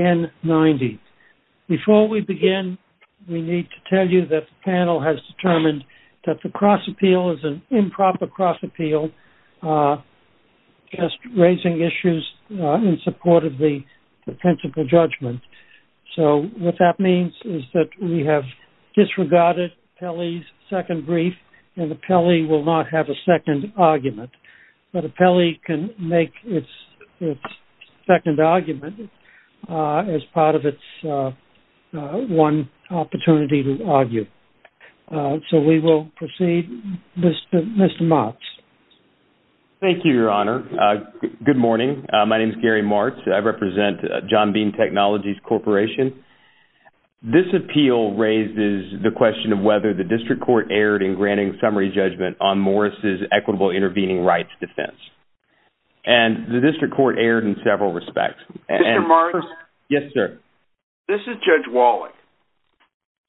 20-1090. Before we begin, we need to tell you that the panel has determined that the cross-appeal is an improper cross-appeal, just raising issues in support of the principle judgment. So what that means is that we have disregarded Pelley's second brief, and Pelley will not have a second argument. But Pelley can make its second argument as part of its one opportunity to argue. So we will proceed. Mr. Martz. Thank you, Your Honor. Good morning. My name is Gary Martz. I represent John Bean Technologies Corporation. This appeal raises the question of whether the District Court erred in granting summary judgment on Morris' equitable intervening rights defense. And the District Court erred in several respects. Mr. Martz. Yes, sir. This is Judge Wallach.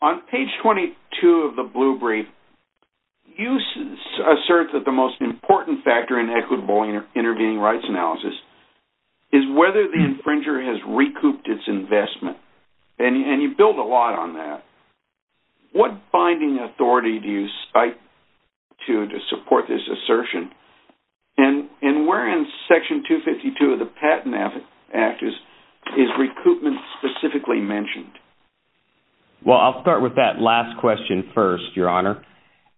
On page 22 of the blue brief, you assert that the most important factor in equitable intervening rights analysis is whether the infringer has recouped its investment. And you build a lot on that. What binding authority do you cite to support this assertion? And where in Section 252 of the Patent Act is recoupment specifically mentioned? Mr. Martz. Well, I'll start with that last question first, Your Honor.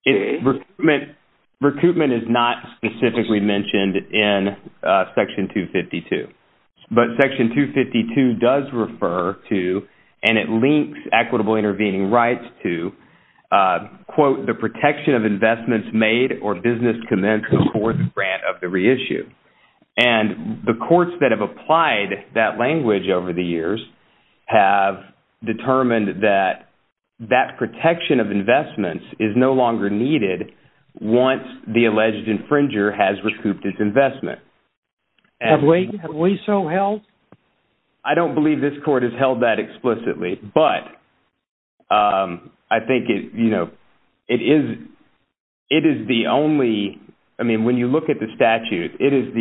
Recoupment is not specifically mentioned in Section 252. But Section 252 does refer to, and it links equitable intervening rights to, quote, the protection of investments made or business commenced before the grant of the reissue. And the courts that have applied that language over the years have determined that that protection of investments is no longer needed once the alleged infringer has recouped its investment. Have we so held? Mr. Martz. I don't believe this court has held that explicitly. But I think, you know, it is the only, I mean, when you look at the statute, it is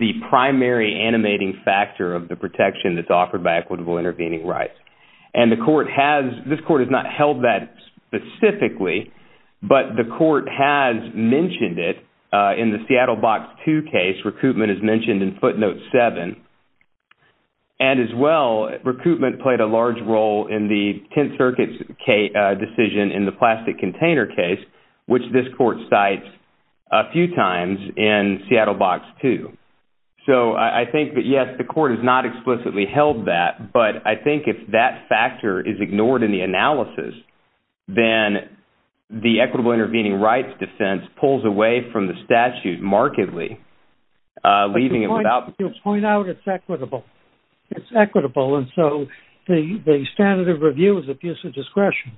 the primary animating factor of the protection that's offered by equitable intervening rights. And the court has, this court has not held that specifically, but the court has mentioned it in the Seattle Box 2 case, recoupment is mentioned in footnote 7. And as well, recoupment played a large role in the Tenth Circuit's decision in the plastic container case, which this court cites a few times in Seattle Box 2. So I think that, yes, the court has not explicitly held that. But I think if that factor is ignored in the analysis, then the equitable intervening rights defense pulls away from the statute markedly, leaving it without... But you'll point out it's equitable. It's equitable. And so the standard of view is a piece of discretion.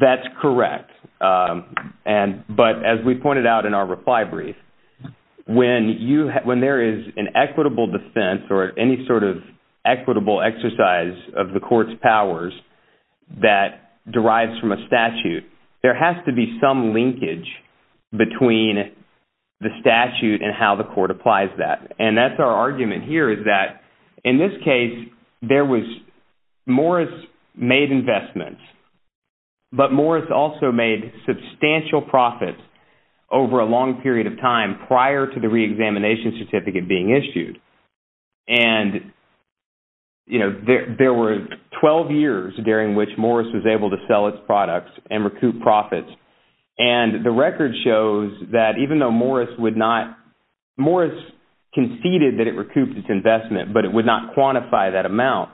That's correct. And, but as we pointed out in our reply brief, when you, when there is an equitable defense or any sort of equitable exercise of the court's powers that derives from a statute, there has to be some linkage between the statute and how the Morris made investments. But Morris also made substantial profits over a long period of time prior to the reexamination certificate being issued. And, you know, there were 12 years during which Morris was able to sell its products and recoup profits. And the record shows that even though Morris would not, Morris conceded that it recouped its investment, but it would not quantify that amount.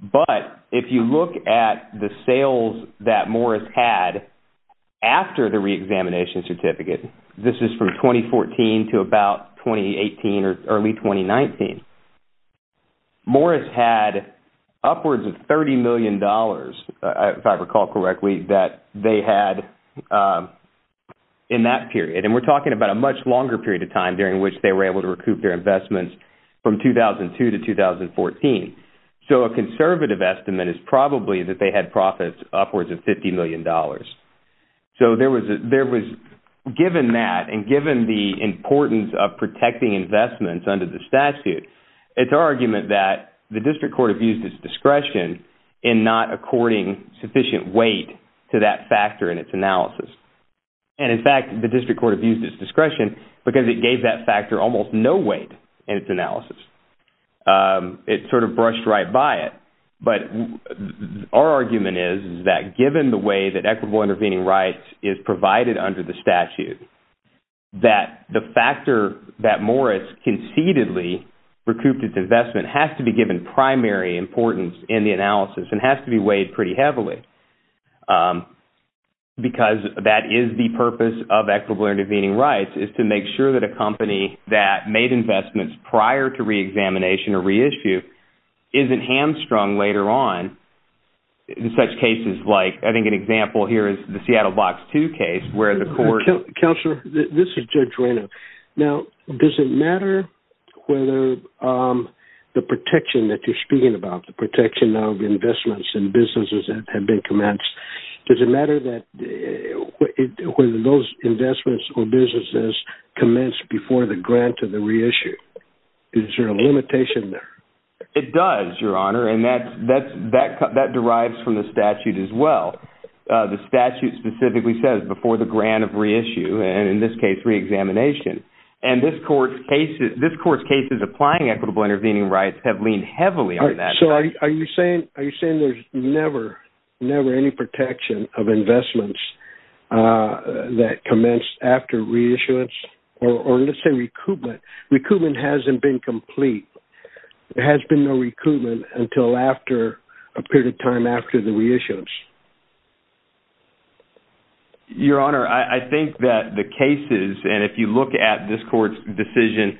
But if you look at the sales that Morris had after the reexamination certificate, this is from 2014 to about 2018 or early 2019, Morris had upwards of $30 million, if I recall correctly, that they had in that period. And we're talking about a much longer period of time during which they were able to recoup their investments from 2002 to 2014. So a conservative estimate is probably that they had profits upwards of $50 million. So there was, there was, given that and given the importance of protecting investments under the statute, it's our argument that the district court abused its discretion in not according sufficient weight to that factor in its analysis. It sort of brushed right by it. But our argument is that given the way that equitable intervening rights is provided under the statute, that the factor that Morris concededly recouped its investment has to be given primary importance in the analysis and has to be weighed pretty heavily. Because that is the purpose of equitable intervening rights is to make sure that a company that made investments prior to reexamination or reissue isn't hamstrung later on in such cases like, I think an example here is the Seattle Box 2 case where the court... Counselor, this is Judge Reynolds. Now, does it matter whether the protection that you're speaking about, the protection of investments and businesses that have been commenced, does it matter that whether those investments or businesses commenced before the grant of the reissue? Is there a limitation there? It does, Your Honor. And that's, that's, that, that derives from the statute as well. The statute specifically says before the grant of reissue, and in this case, reexamination. And this court's cases, this court's cases applying equitable intervening rights have leaned heavily on that. So are you saying, are you saying there's never, never any protection of investments that commenced after reissuance, or let's say recoupment? Recoupment hasn't been complete. There has been no recoupment until after a period of time after the reissuance. Your Honor, I think that the cases, and if you look at this court's decision,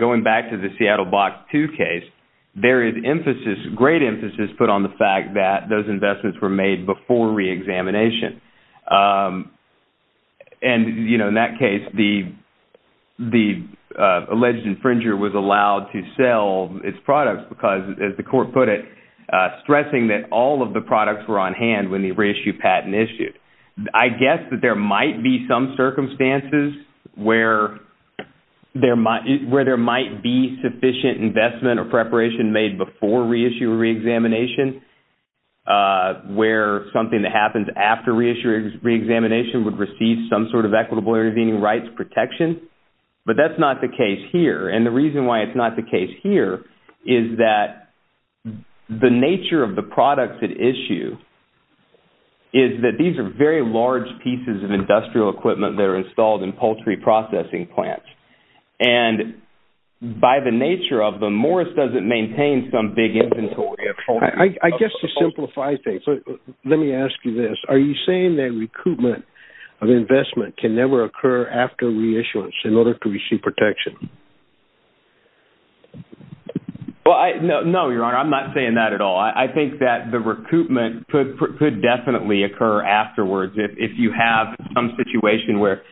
going back to the Seattle Box 2 case, there is emphasis, great emphasis put on the fact that those investments were made before reexamination. And, you know, in that case, the, the alleged infringer was allowed to sell its products because, as the court put it, stressing that all of the products were on hand when the reissue patent issued. I guess that there might be some circumstances where there might, where there might be sufficient investment or preparation made before reissue or reexamination, where something that happens after reissue, reexamination would receive some sort of equitable intervening rights protection. But that's not the case here. And the reason why it's not the case here is that the nature of the products at issue is that these are very large pieces of industrial equipment that are installed in poultry processing plants. And by the nature of them, Morris doesn't maintain some big inventory of poultry. I guess to simplify things, let me ask you this. Are you saying that recoupment of investment can never occur after reissuance in order to receive protection? Well, I, no, no, Your Honor, I'm not saying that at all. I think that the recoupment could, could definitely occur afterwards. If you have some situation where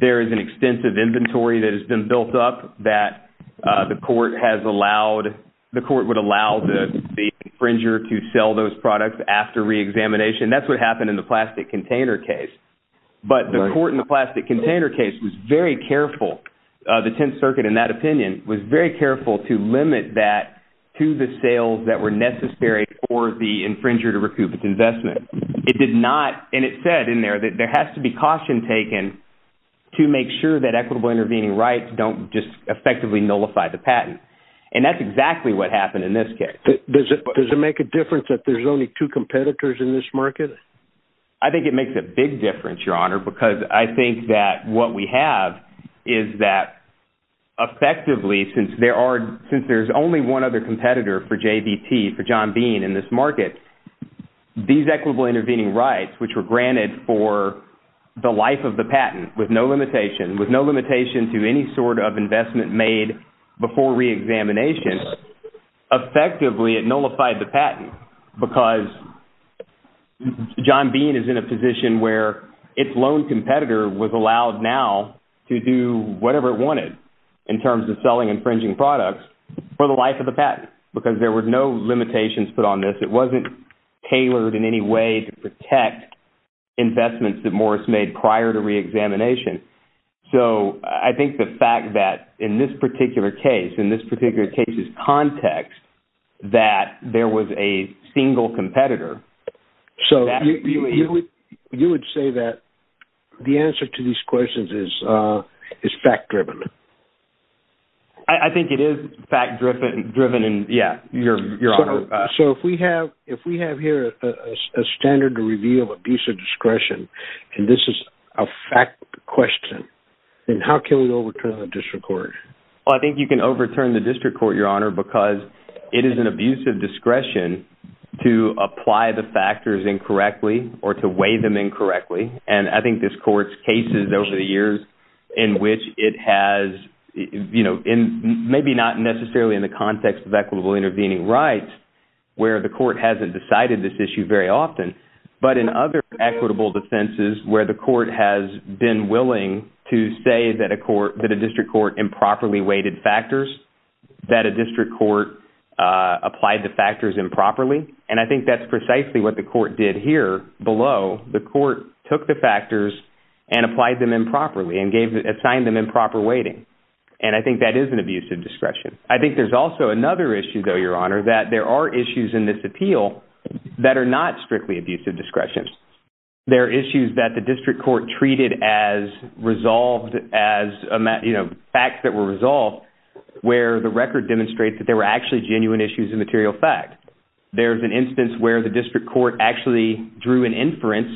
there is an extensive inventory that has been built up that the court has allowed, the court would allow the infringer to sell those products after reexamination. That's what happened in the circuit, in that opinion, was very careful to limit that to the sales that were necessary for the infringer to recoup its investment. It did not, and it said in there that there has to be caution taken to make sure that equitable intervening rights don't just effectively nullify the patent. And that's exactly what happened in this case. Does it, does it make a difference that there's only two competitors in this market? I think it makes a big difference, Your Honor, because I think that what we have is that effectively, since there are, since there's only one other competitor for JVT, for John Bean in this market, these equitable intervening rights, which were granted for the life of the patent with no limitation, with no limitation to any sort of investment made before reexamination, effectively it nullified the patent because John Bean is in a position where its lone competitor was allowed now to do whatever it wanted in terms of selling infringing products for the life of the patent because there were no limitations put on this. It wasn't tailored in any way to protect investments that Morris made prior to reexamination. So I think the fact that in this particular case, in this particular case's context, that there was a single competitor, so you would, you would say that the answer to these questions is, is fact-driven. I think it is fact-driven, driven and yeah, Your Honor. So if we have, if we have here a standard to reveal abuse of discretion, and this is a fact question, then how can we overturn the district court? I think you can overturn the district court, Your Honor, because it is an abuse of discretion to apply the factors incorrectly or to weigh them incorrectly. And I think this court's cases over the years in which it has, you know, in maybe not necessarily in the context of equitable intervening rights, where the court hasn't decided this issue very often, but in other equitable defenses where the court has been willing to say that a court, that a district court improperly weighted factors, that a district court applied the factors improperly. And I think that's precisely what the court did here below. The court took the factors and applied them improperly and gave, assigned them improper weighting. And I think that is an abuse of discretion. I think there's also another issue though, Your Honor, that there are issues in this appeal that are not strictly abuse of discretion. There are issues that the district court treated as resolved as, you know, facts that were resolved where the record demonstrates that there were actually genuine issues of material fact. There's an instance where the district court actually drew an inference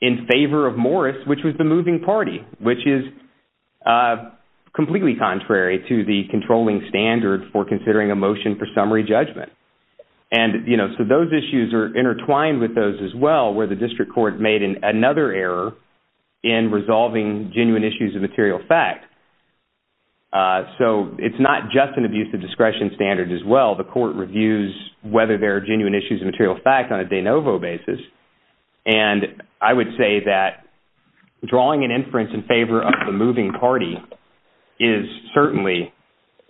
in favor of Morris, which was the moving party, which is completely contrary to the controlling standard for considering a motion for discretion. And I find with those as well, where the district court made another error in resolving genuine issues of material fact. So it's not just an abuse of discretion standard as well. The court reviews whether there are genuine issues of material fact on a de novo basis. And I would say that drawing an inference in favor of the moving party is certainly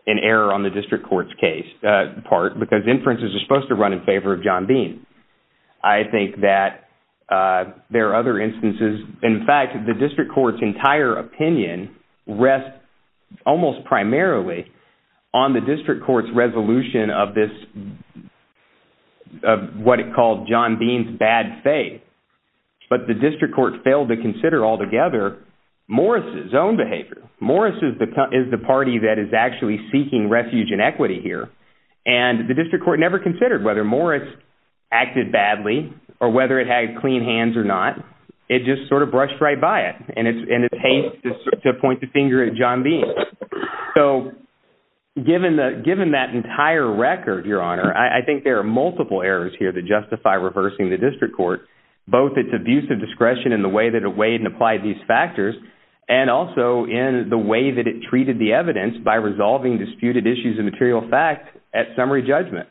an error on the district court's case, part, because inferences are supposed to run in favor of John Bean. I think that there are other instances, in fact, the district court's entire opinion rests almost primarily on the district court's resolution of this, of what it called John Bean's bad faith. But the district court failed to consider altogether Morris' own behavior. Morris is the party that is actually seeking refuge and equity here. And the district court never considered whether Morris acted badly or whether it had clean hands or not. It just sort of brushed right by it. And it's haste to point the finger at John Bean. So given that entire record, Your Honor, I think there are multiple errors here that justify reversing the district court, both its abuse of discretion in the way that it weighed and applied these factors, and also in the way that it treated the evidence by resolving disputed issues of material fact at summary judgment.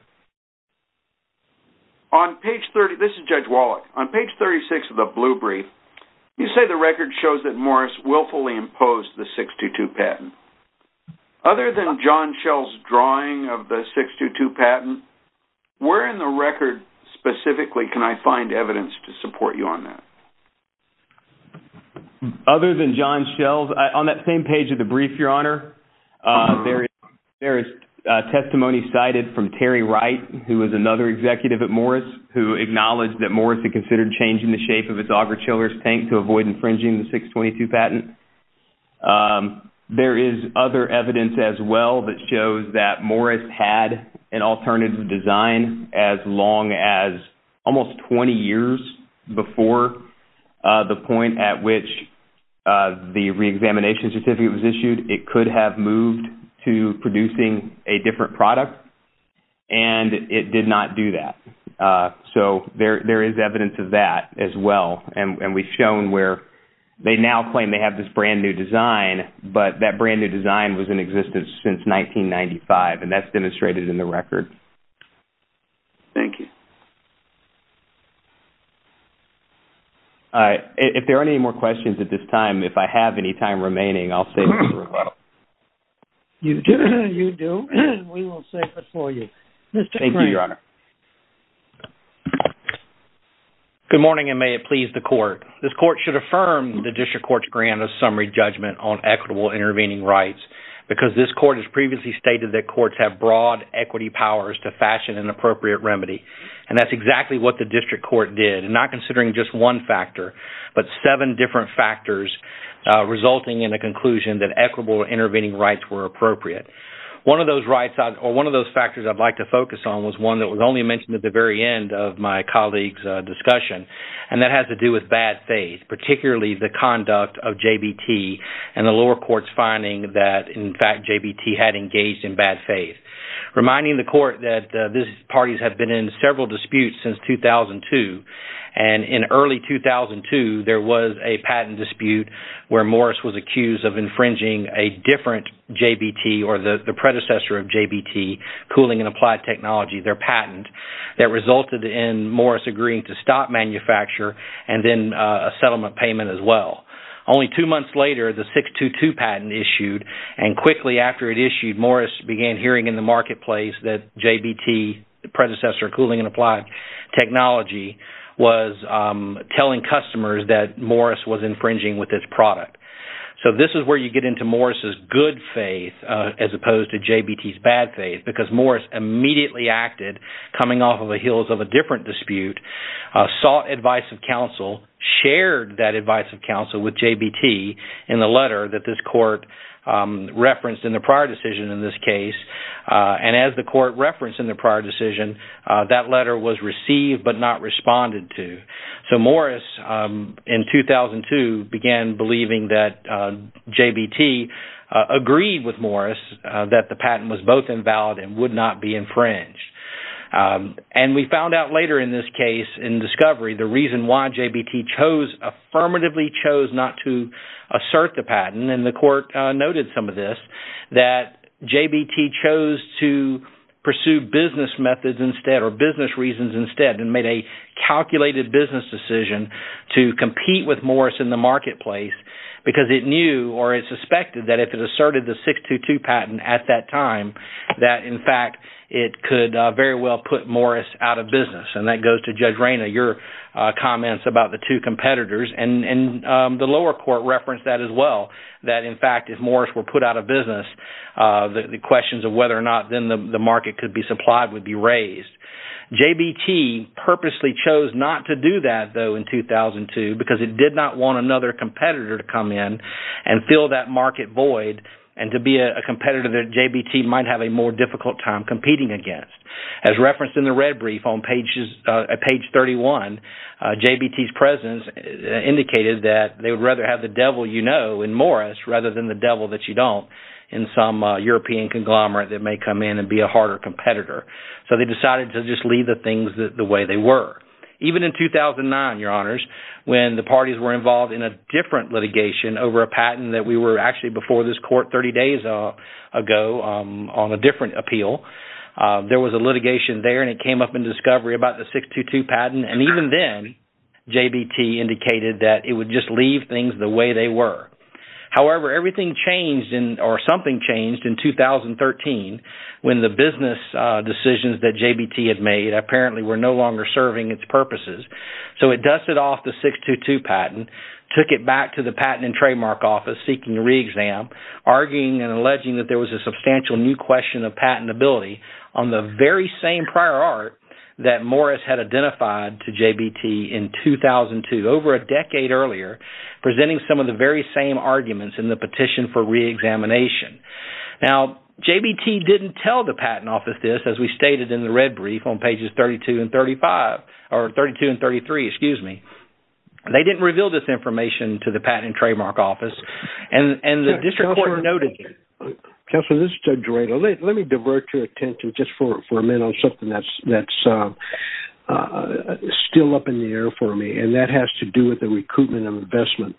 On page 30, this is Judge Wallach, on page 36 of the blue brief, you say the record shows that Morris willfully imposed the 622 patent. Other than Other than John Shells, on that same page of the brief, Your Honor, there is testimony cited from Terry Wright, who is another executive at Morris, who acknowledged that Morris had considered changing the shape of its auger-chiller's tank to avoid infringing the 622 patent. There is other evidence as well that shows that Morris had an alternative design as long as almost 20 years before the point at which the reexamination certificate was issued. It could have moved to producing a different product, and it did not do that. So there is evidence of that as well. And we've shown where they now claim they have this brand new design that has been in existence since 1995, and that's demonstrated in the record. If there are any more questions at this time, if I have any time remaining, I'll stay with you for a little while. You do, and we will save it for you. Thank you, Your Honor. Good morning, and may it please the Court. This Court should affirm the District Court's grant of summary judgment on equitable intervening rights, because this Court has previously stated that courts have broad equity powers to fashion an appropriate remedy. And that's exactly what the District Court did, not considering just one factor, but seven different factors resulting in a conclusion that equitable intervening rights were appropriate. One of those rights, or one of those factors I'd like to focus on, was one that was only mentioned at the very end of my colleague's discussion, and that has to do with bad faith, particularly the conduct of JBT and the lower court's finding that, in fact, JBT had engaged in bad faith. Reminding the Court that these parties have been in cooling and applied technology, their patent, that resulted in Morris agreeing to stop manufacture and then a settlement payment as well. Only two months later, the 622 patent issued, and quickly after it issued, Morris began hearing in the marketplace that JBT, the predecessor of cooling and applied technology, was telling Morris immediately acted, coming off of the heels of a different dispute, sought advice of counsel, shared that advice of counsel with JBT in the letter that this Court referenced in the prior decision in this case, and as the Court referenced in the prior decision, that letter was received but not responded to. So Morris, in 2002, began believing that JBT agreed with Morris that the patent was both invalid and would not be infringed. And we found out later in this case, in discovery, the reason why JBT chose, affirmatively chose, not to assert the patent, and the Court noted some of this, that JBT chose to pursue business methods instead, or business reasons instead, and made a decision to compete with Morris in the marketplace because it knew, or it suspected, that if it asserted the 622 patent at that time, that, in fact, it could very well put Morris out of business. And that goes to Judge Reyna, your comments about the two competitors, and the lower Court referenced that as well, that, in fact, if Morris were put out of business, the questions of whether or not then the market could be supplied would be raised. JBT purposely chose not to do that, though, in 2002 because it did not want another competitor to come in and fill that market void, and to be a competitor that JBT might have a more difficult time competing against. As referenced in the red brief on page 31, JBT's presence indicated that they would rather have the devil you know in Morris rather than the devil that you don't in some European conglomerate that may come in and be a harder competitor. So they decided to just leave the things the way they were. Even in 2009, your honors, when the parties were involved in a different litigation over a patent that we were actually before this Court 30 days ago on a different appeal, there was a litigation there, and it came up in discovery about the 622 patent, and even then, JBT indicated that it would just leave things the way they were. However, everything changed, or something changed, in 2013 when the business decisions that JBT had made apparently were no longer serving its purposes, so it dusted off the 622 patent, took it back to the Patent and Trademark Office seeking a re-exam, arguing and alleging that there was a substantial new question of patentability on the very same prior art that Morris had identified to JBT in 2002, over a decade earlier, presenting some of the very same arguments in the petition for re-examination. Now, JBT didn't tell the Patent Office this, as we stated in the red brief on pages 32 and 35, or 32 and 33, excuse me. They didn't reveal this information to the Patent and Trademark Office, and the District Court noted it. Counselor, this is Judge Rado. Let me divert your attention just for a minute on something that's still up in the air for me, and that has to do with the recoupment of investment.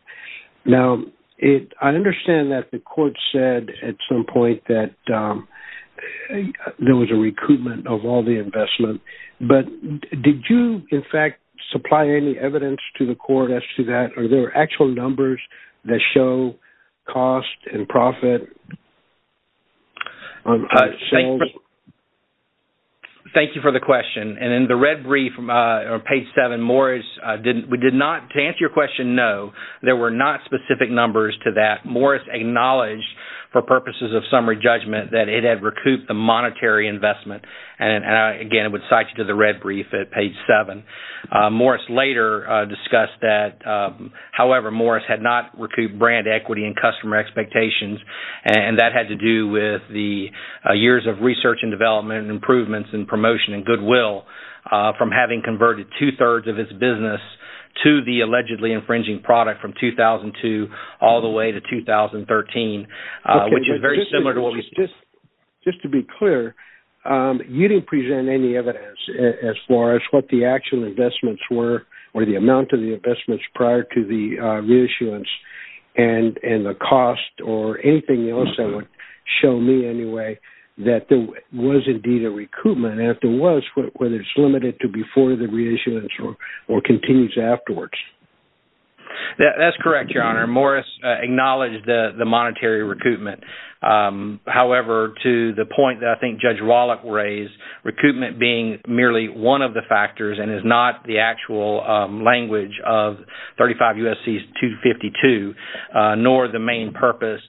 Now, I understand that the Court said at some point that there was a recoupment of all the investment, but did you, in fact, supply any evidence to the Court as to that? Or were there actual numbers that show cost and profit? Thank you for the question. And in the red brief on page 7, Morris did not, to answer your question, no, there were not specific numbers to that. Morris acknowledged, for purposes of summary judgment, that it had recouped the monetary investment, and again, I would cite you to the red brief at page 7. Morris later discussed that, however, Morris had not recouped brand equity and customer expectations, and that had to do with the years of research and development and improvements and promotion and goodwill from having converted two-thirds of his business to the allegedly infringing product from 2002 all the way to 2013, which is very similar to what we see. Just to be clear, you didn't present any evidence as far as what the actual investments were or the amount of the investments prior to the reissuance and the cost or anything else that would show me, anyway, that there was indeed a recoupment, and if there was, whether it's limited to before the reissuance or continues afterwards. That's correct, Your Honor. Morris acknowledged the monetary recoupment. However, to the point that I think Judge Wallach raised, recoupment being merely one of the factors and is not the actual language of 35 U.S.C.'s 252, nor the main purpose,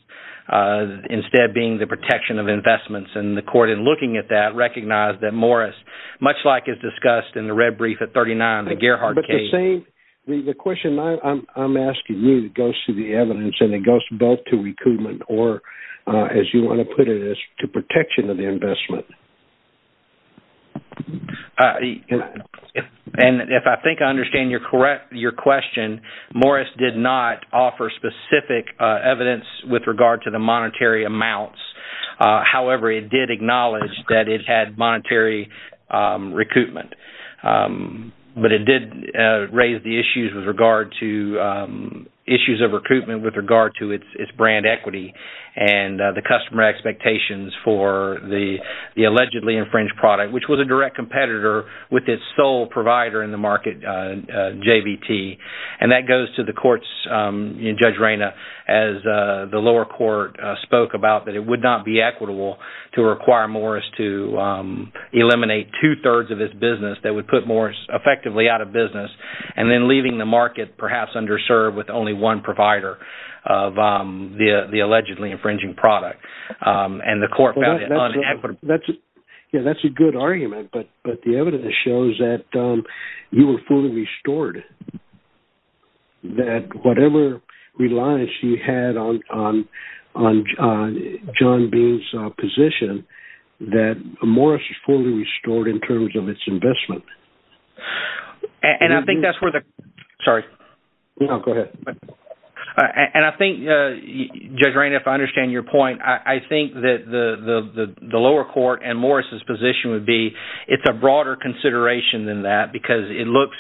instead being the protection of investments, and the court, in looking at that, recognized that Morris, much like it's discussed in the red brief at 39, the Gerhardt case— as you want to put it, is to protection of the investment. And if I think I understand your question, Morris did not offer specific evidence with regard to the monetary amounts. However, it did acknowledge that it had monetary recoupment, but it did raise the issues of recoupment with regard to its brand equity. And the customer expectations for the allegedly infringed product, which was a direct competitor with its sole provider in the market, JVT. And that goes to the courts, Judge Reyna, as the lower court spoke about that it would not be equitable to require Morris to eliminate two-thirds of its business that would put Morris effectively out of business. And then leaving the market, perhaps underserved, with only one provider of the allegedly infringing product, and the court found it unequitable. That's a good argument, but the evidence shows that you were fully restored. That whatever reliance you had on John Bean's position, that Morris was fully restored in terms of its investment. And I think that's where the... Sorry. No, go ahead. And I think, Judge Reyna, if I understand your point, I think that the lower court and Morris' position would be it's a broader consideration than that, because it looks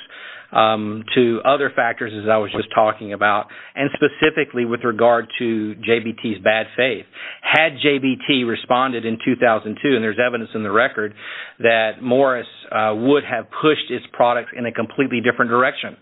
to other factors, as I was just talking about, and specifically with regard to JVT's bad faith. Had JVT responded in 2002, and there's evidence in the record that Morris would have pushed its products in a completely different direction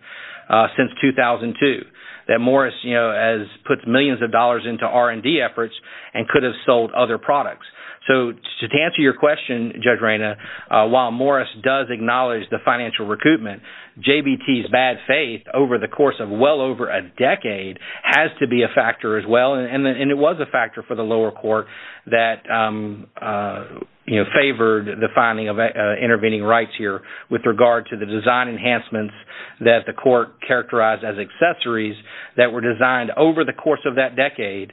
since 2002, that Morris has put millions of dollars into R&D efforts and could have sold other products. So, to answer your question, Judge Reyna, while Morris does acknowledge the financial recoupment, JVT's bad faith over the course of well over a decade has to be a factor as well. And it was a factor for the lower court that favored the finding of intervening rights here with regard to the design enhancements that the court characterized as accessories that were designed over the course of that decade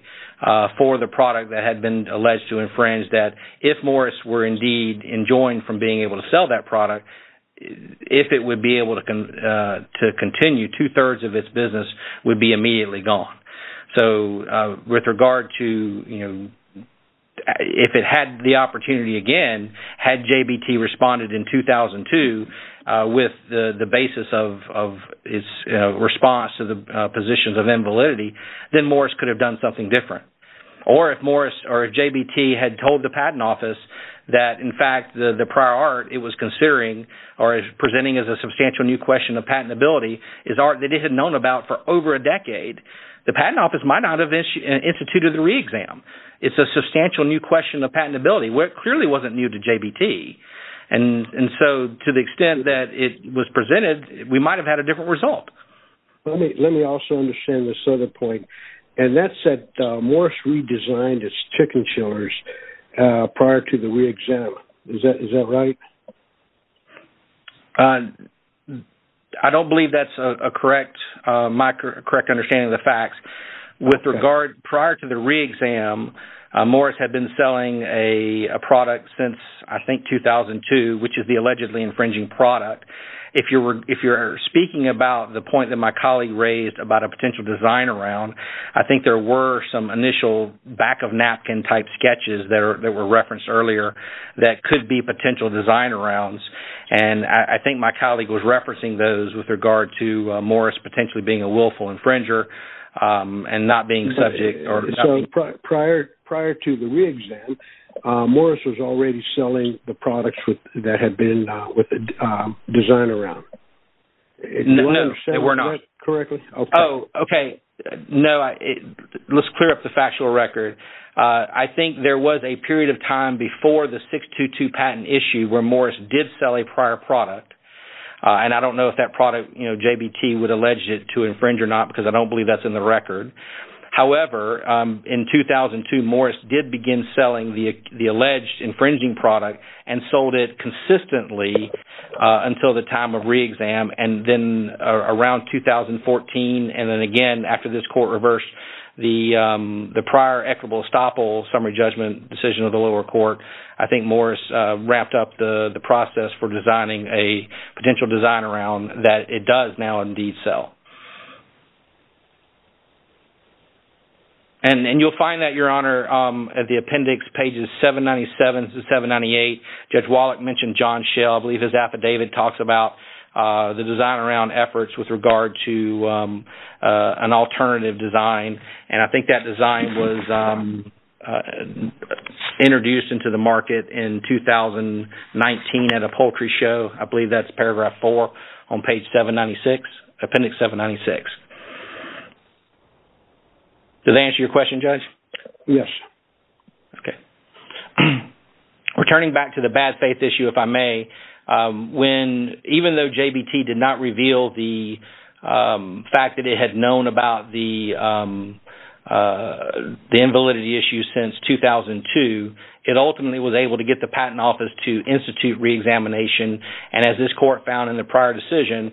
for the product that had been alleged to infringe that. If Morris were indeed enjoined from being able to sell that product, if it would be able to continue, two-thirds of its business would be immediately gone. So, with regard to, you know, if it had the opportunity again, had JVT responded in 2002 with the basis of its response to the positions of invalidity, then Morris could have done something different. Or if Morris or JVT had told the Patent Office that, in fact, the prior art it was considering or is presenting as a substantial new question of patentability is art that it had known about for over a decade, the Patent Office might not have instituted the re-exam. It's a substantial new question of patentability where it clearly wasn't new to JVT. And so, to the extent that it was presented, we might have had a different result. Let me also understand this other point. And that said, Morris redesigned its chicken chillers prior to the re-exam. Is that right? I don't believe that's a correct understanding of the facts. With regard, prior to the re-exam, Morris had been selling a product since, I think, 2002, which is the allegedly infringing product. If you're speaking about the point that my colleague raised about a potential design-around, I think there were some initial back-of-napkin-type sketches that were referenced earlier that could be potential design-arounds. And I think my colleague was referencing those with regard to Morris potentially being a willful infringer and not being subject or… Prior to the re-exam, Morris was already selling the products that had been with a design-around. No, they were not. Okay. No, let's clear up the factual record. I think there was a period of time before the 622 patent issue where Morris did sell a prior product. And I don't know if that product, JVT, would allege it to infringe or not because I don't believe that's in the record. However, in 2002, Morris did begin selling the alleged infringing product and sold it consistently until the time of re-exam. And then around 2014, and then again after this court reversed the prior equitable estoppel summary judgment decision of the lower court, I think Morris wrapped up the process for designing a potential design-around that it does now indeed sell. And you'll find that, Your Honor, at the appendix pages 797 to 798. Judge Wallach mentioned John Schell. I believe his affidavit talks about the design-around efforts with regard to an alternative design. And I think that design was introduced into the market in 2019 at a poultry show. I believe that's paragraph 4 on page 796, appendix 796. Does that answer your question, Judge? Yes. Okay. Returning back to the bad faith issue, if I may, even though JVT did not reveal the fact that it had known about the invalidity issue since 2002, it ultimately was able to get the Patent Office to institute re-examination. And as this court found in the prior decision,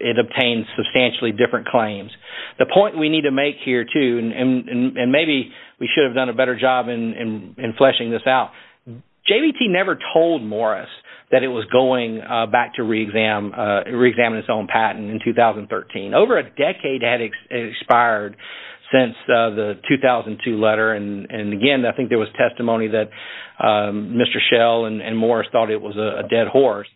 it obtained substantially different claims. The point we need to make here too, and maybe we should have done a better job in fleshing this out, JVT never told Morris that it was going back to re-examine its own patent in 2013. Over a decade had expired since the 2002 letter. And again, I think there was testimony that Mr. Schell and Morris thought it was a dead horse.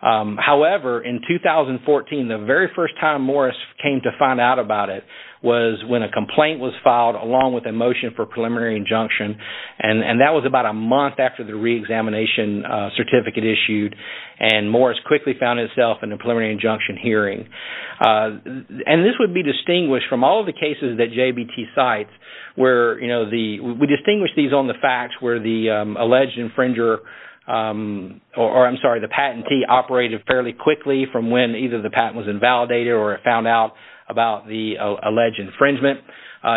However, in 2014, the very first time Morris came to find out about it was when a complaint was filed along with a motion for preliminary injunction. And that was about a month after the re-examination certificate issued. And Morris quickly found himself in a preliminary injunction hearing. And this would be distinguished from all of the cases that JVT cites where, you know, we distinguish these on the facts where the alleged infringer, or I'm sorry, the patentee operated fairly quickly from when either the patent was invalidated or it found out about the alleged infringement.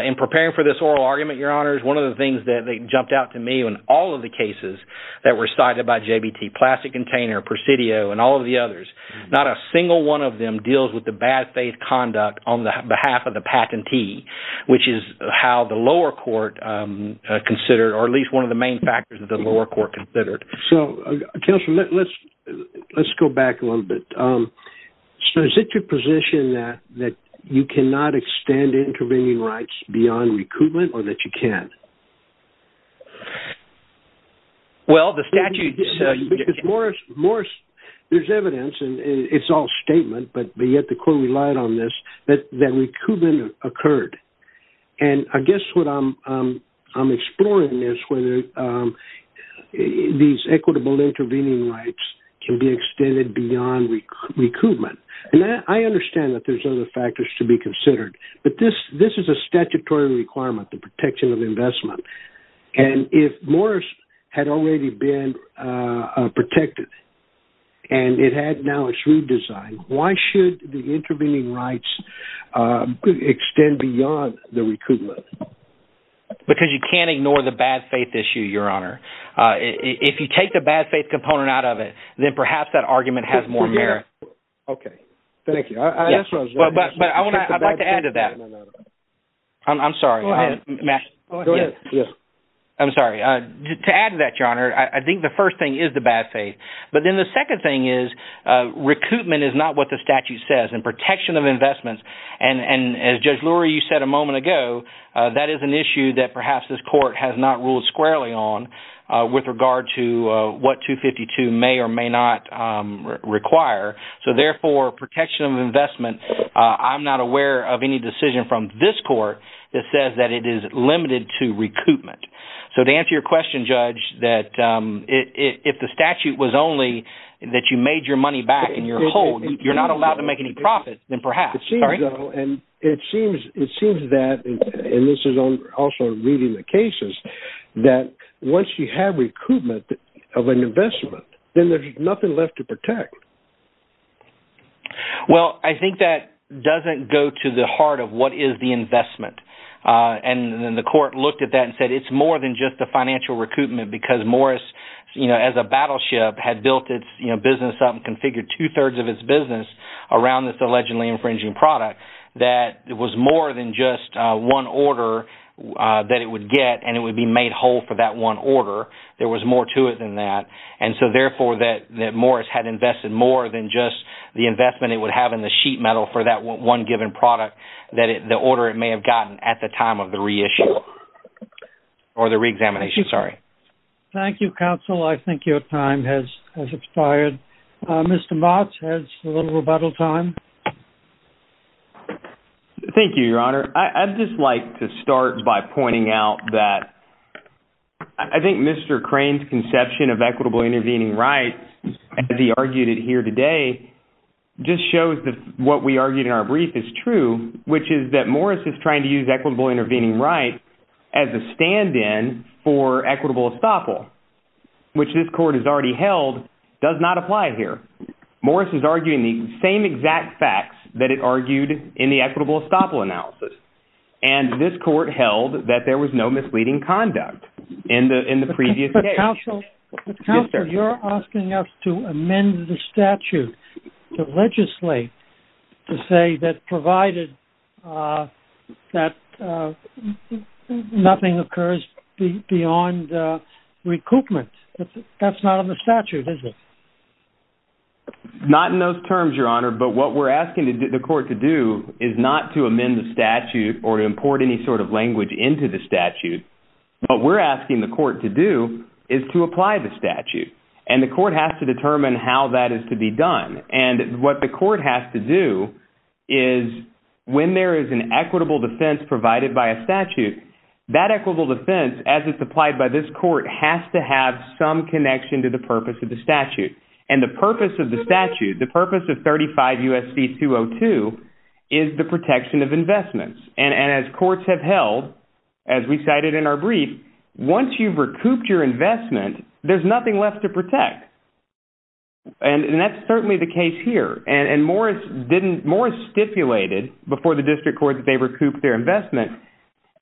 In preparing for this oral argument, Your Honors, one of the things that jumped out to me in all of the cases that were cited by JVT, Plastic Container, Presidio, and all of the others, not a single one of them deals with the bad faith conduct on behalf of the patentee, which is how the lower court considered, or at least one of the main factors that the lower court considered. So, Counselor, let's go back a little bit. So, is it your position that you cannot extend intervening rights beyond recoupment or that you can? Well, the statute... Because, Morris, there's evidence, and it's all statement, but yet the court relied on this, that recoupment occurred. And I guess what I'm exploring is whether these equitable intervening rights can be extended beyond recoupment. And I understand that there's other factors to be considered. But this is a statutory requirement, the protection of investment. And if Morris had already been protected and it had now its redesign, why should the intervening rights extend beyond the recoupment? Because you can't ignore the bad faith issue, Your Honor. If you take the bad faith component out of it, then perhaps that argument has more merit. Okay. Thank you. But I'd like to add to that. I'm sorry. I'm sorry. To add to that, Your Honor, I think the first thing is the bad faith. But then the second thing is recoupment is not what the statute says. And protection of investments... And as Judge Lurie, you said a moment ago, that is an issue that perhaps this court has not ruled squarely on with regard to what 252 may or may not require. So therefore, protection of investment, I'm not aware of any decision from this court that says that it is limited to recoupment. So to answer your question, Judge, that if the statute was only that you made your money back and you're whole, you're not allowed to make any profit, then perhaps. It seems so. And it seems that, and this is also reading the cases, that once you have recoupment of an investment, then there's nothing left to protect. Well, I think that doesn't go to the heart of what is the investment. And the court looked at that and said it's more than just the financial recoupment because Morris, you know, as a battleship, had built its, you know, business up and configured two-thirds of its business around this allegedly infringing product that it was more than just one order that it would get and it would be made whole for that one order. There was more to it than that. And so therefore, that Morris had invested more than just the investment it would have in the sheet metal for that one given product that the order it may have gotten at the time of the reissue or the re-examination. Sorry. Thank you, counsel. I think your time has expired. Mr. Motz has a little rebuttal time. Thank you, Your Honor. I'd just like to start by pointing out that I think Mr. Crane's conception of equitable intervening rights as he argued it here today just shows that what we argued in our brief is true, which is that Morris is trying to use equitable intervening rights as a stand-in for equitable estoppel, which this court has already held does not apply here. Morris is arguing the same exact facts that it argued in the equitable estoppel analysis. And this court held that there was no misleading conduct in the previous case. But counsel, you're asking us to amend the statute to legislate to say that provided that nothing occurs beyond recoupment. That's not on the statute, is it? Not in those terms, Your Honor. But what we're asking the court to do is not to amend the statute or import any sort of language into the statute. What we're asking the court to do is to apply the statute. And the court has to determine how that is to be done. And what the court has to do is when there is an equitable defense provided by a statute, that equitable defense, as it's applied by this court, has to have some connection to the purpose of the statute. And the purpose of the statute, the purpose of 35 U.S.C. 202 is the protection of investments. And as courts have held, as we cited in our brief, once you've recouped your investment, there's nothing left to protect. And that's certainly the case here. And Morris stipulated before the district court that they recouped their investment.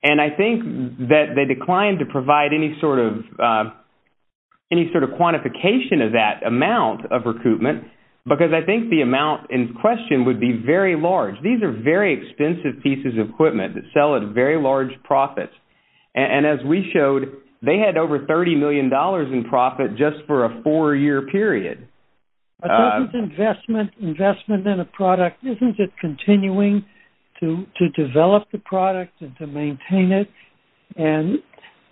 And I think that they declined to provide any sort of quantification of that amount of recoupment. Because I think the amount in question would be very large. These are very expensive pieces of equipment that sell at very large profits. And as we showed, they had over $30 million in profit just for a four-year period. But isn't investment in a product, isn't it continuing to develop the product and to maintain it? And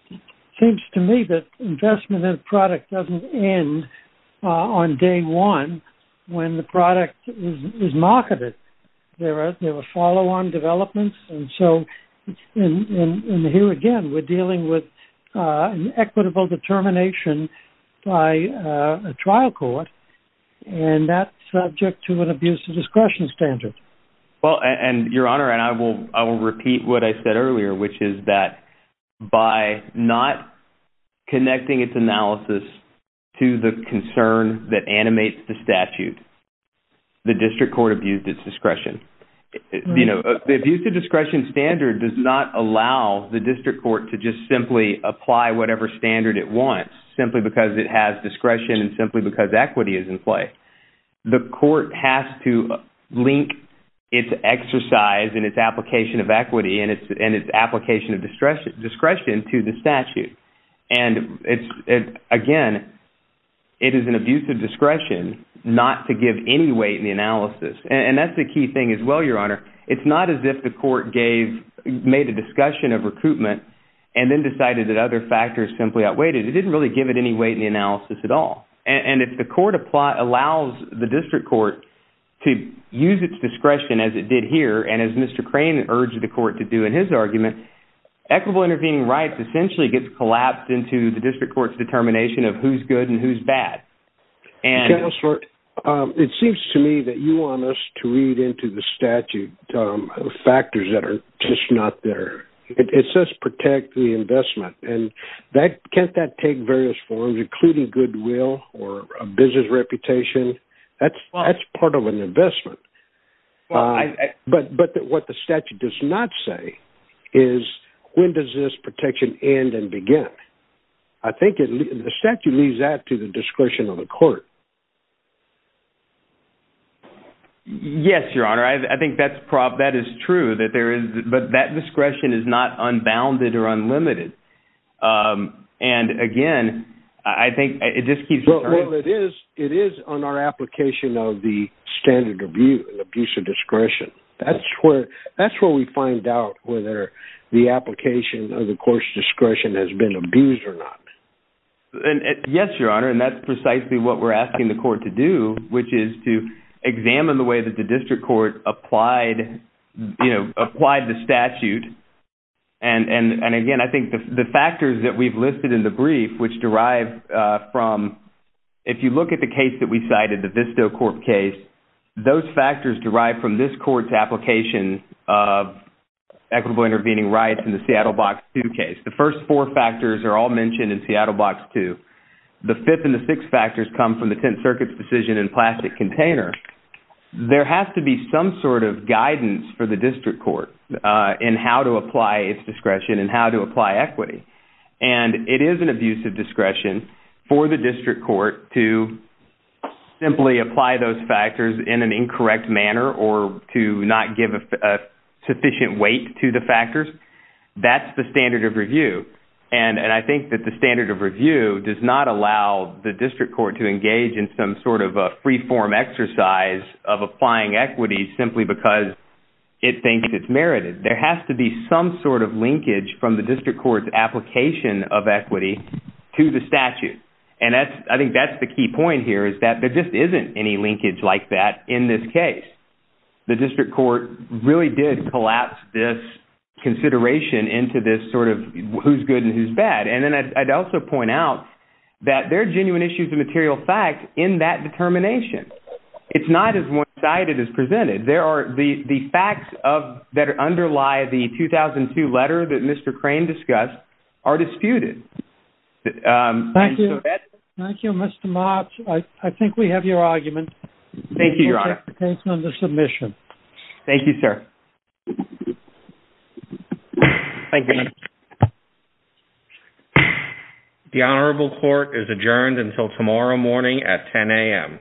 it seems to me that investment in a product doesn't end on day one when the product is marketed. There are follow-on developments. And so, and here again, we're dealing with an equitable determination by a trial court. And that's subject to an abuse of discretion standard. Well, and Your Honor, and I will repeat what I said earlier, which is that by not connecting its analysis to the concern that animates the statute, the district court abused its discretion. You know, the abuse of discretion standard does not allow the district court to just simply apply whatever standard it wants simply because it has discretion and simply because equity is in play. The court has to link its exercise and its application of equity and its application of discretion to the statute. And again, it is an abuse of discretion not to give any weight in the analysis. And that's the key thing as well, Your Honor. It's not as if the court gave, made a discussion of recoupment and then decided that other factors simply outweighed it. It didn't really give it any weight in the analysis at all. And if the court allows the district court to use its discretion as it did here and as Mr. Crane urged the court to do in his argument, equitable intervening rights essentially gets collapsed into the district court's determination of who's good and who's bad. Counselor, it seems to me that you want us to read into the statute factors that are just not there. It says protect the investment. And can't that take various forms, including goodwill or a business reputation? That's part of an investment. But what the statute does not say is when does this protection end and begin? I think the statute leaves that to the discretion of the court. Yes, Your Honor. I think that is true that there is, but that discretion is not unbounded or unlimited. And again, I think it just keeps- Well, it is on our application of the standard abuse of discretion. That's where we find out whether the application of the court's discretion has been abused or not. Yes, Your Honor, and that's precisely what we're asking the court to do, which is to examine the way that the district court applied the statute. And again, I think the factors that we've listed in the brief, which derive from- If you look at the case that we cited, the Visto Corp case, those factors derive from this court's application of equitable intervening rights in the Seattle Box 2 case. The first four factors are all mentioned in Seattle Box 2. The fifth and the sixth factors come from the Tenth Circuit's decision in plastic container. There has to be some sort of guidance for the district court in how to apply its discretion and how to apply equity. And it is an abuse of discretion for the district court to simply apply those factors in an incorrect manner or to not give a sufficient weight to the factors. That's the standard of review. And I think that the standard of review does not allow the district court to engage in some sort of a free-form exercise of applying equity simply because it thinks it's merited. There has to be some sort of linkage from the district court's application of equity to the statute. And I think that's the key point here is that there just isn't any linkage like that in this case. The district court really did collapse this consideration into this sort of who's good and who's bad. And then I'd also point out that there are genuine issues of material fact in that determination. It's not as one-sided as presented. There are the facts that underlie the 2002 letter that Mr. Crane discussed are disputed. Thank you. Thank you, Mr. March. I think we have your argument. Thank you, Your Honor. Based on the submission. Thank you, sir. Thank you. The honorable court is adjourned until tomorrow morning at 10 a.m. Thank you.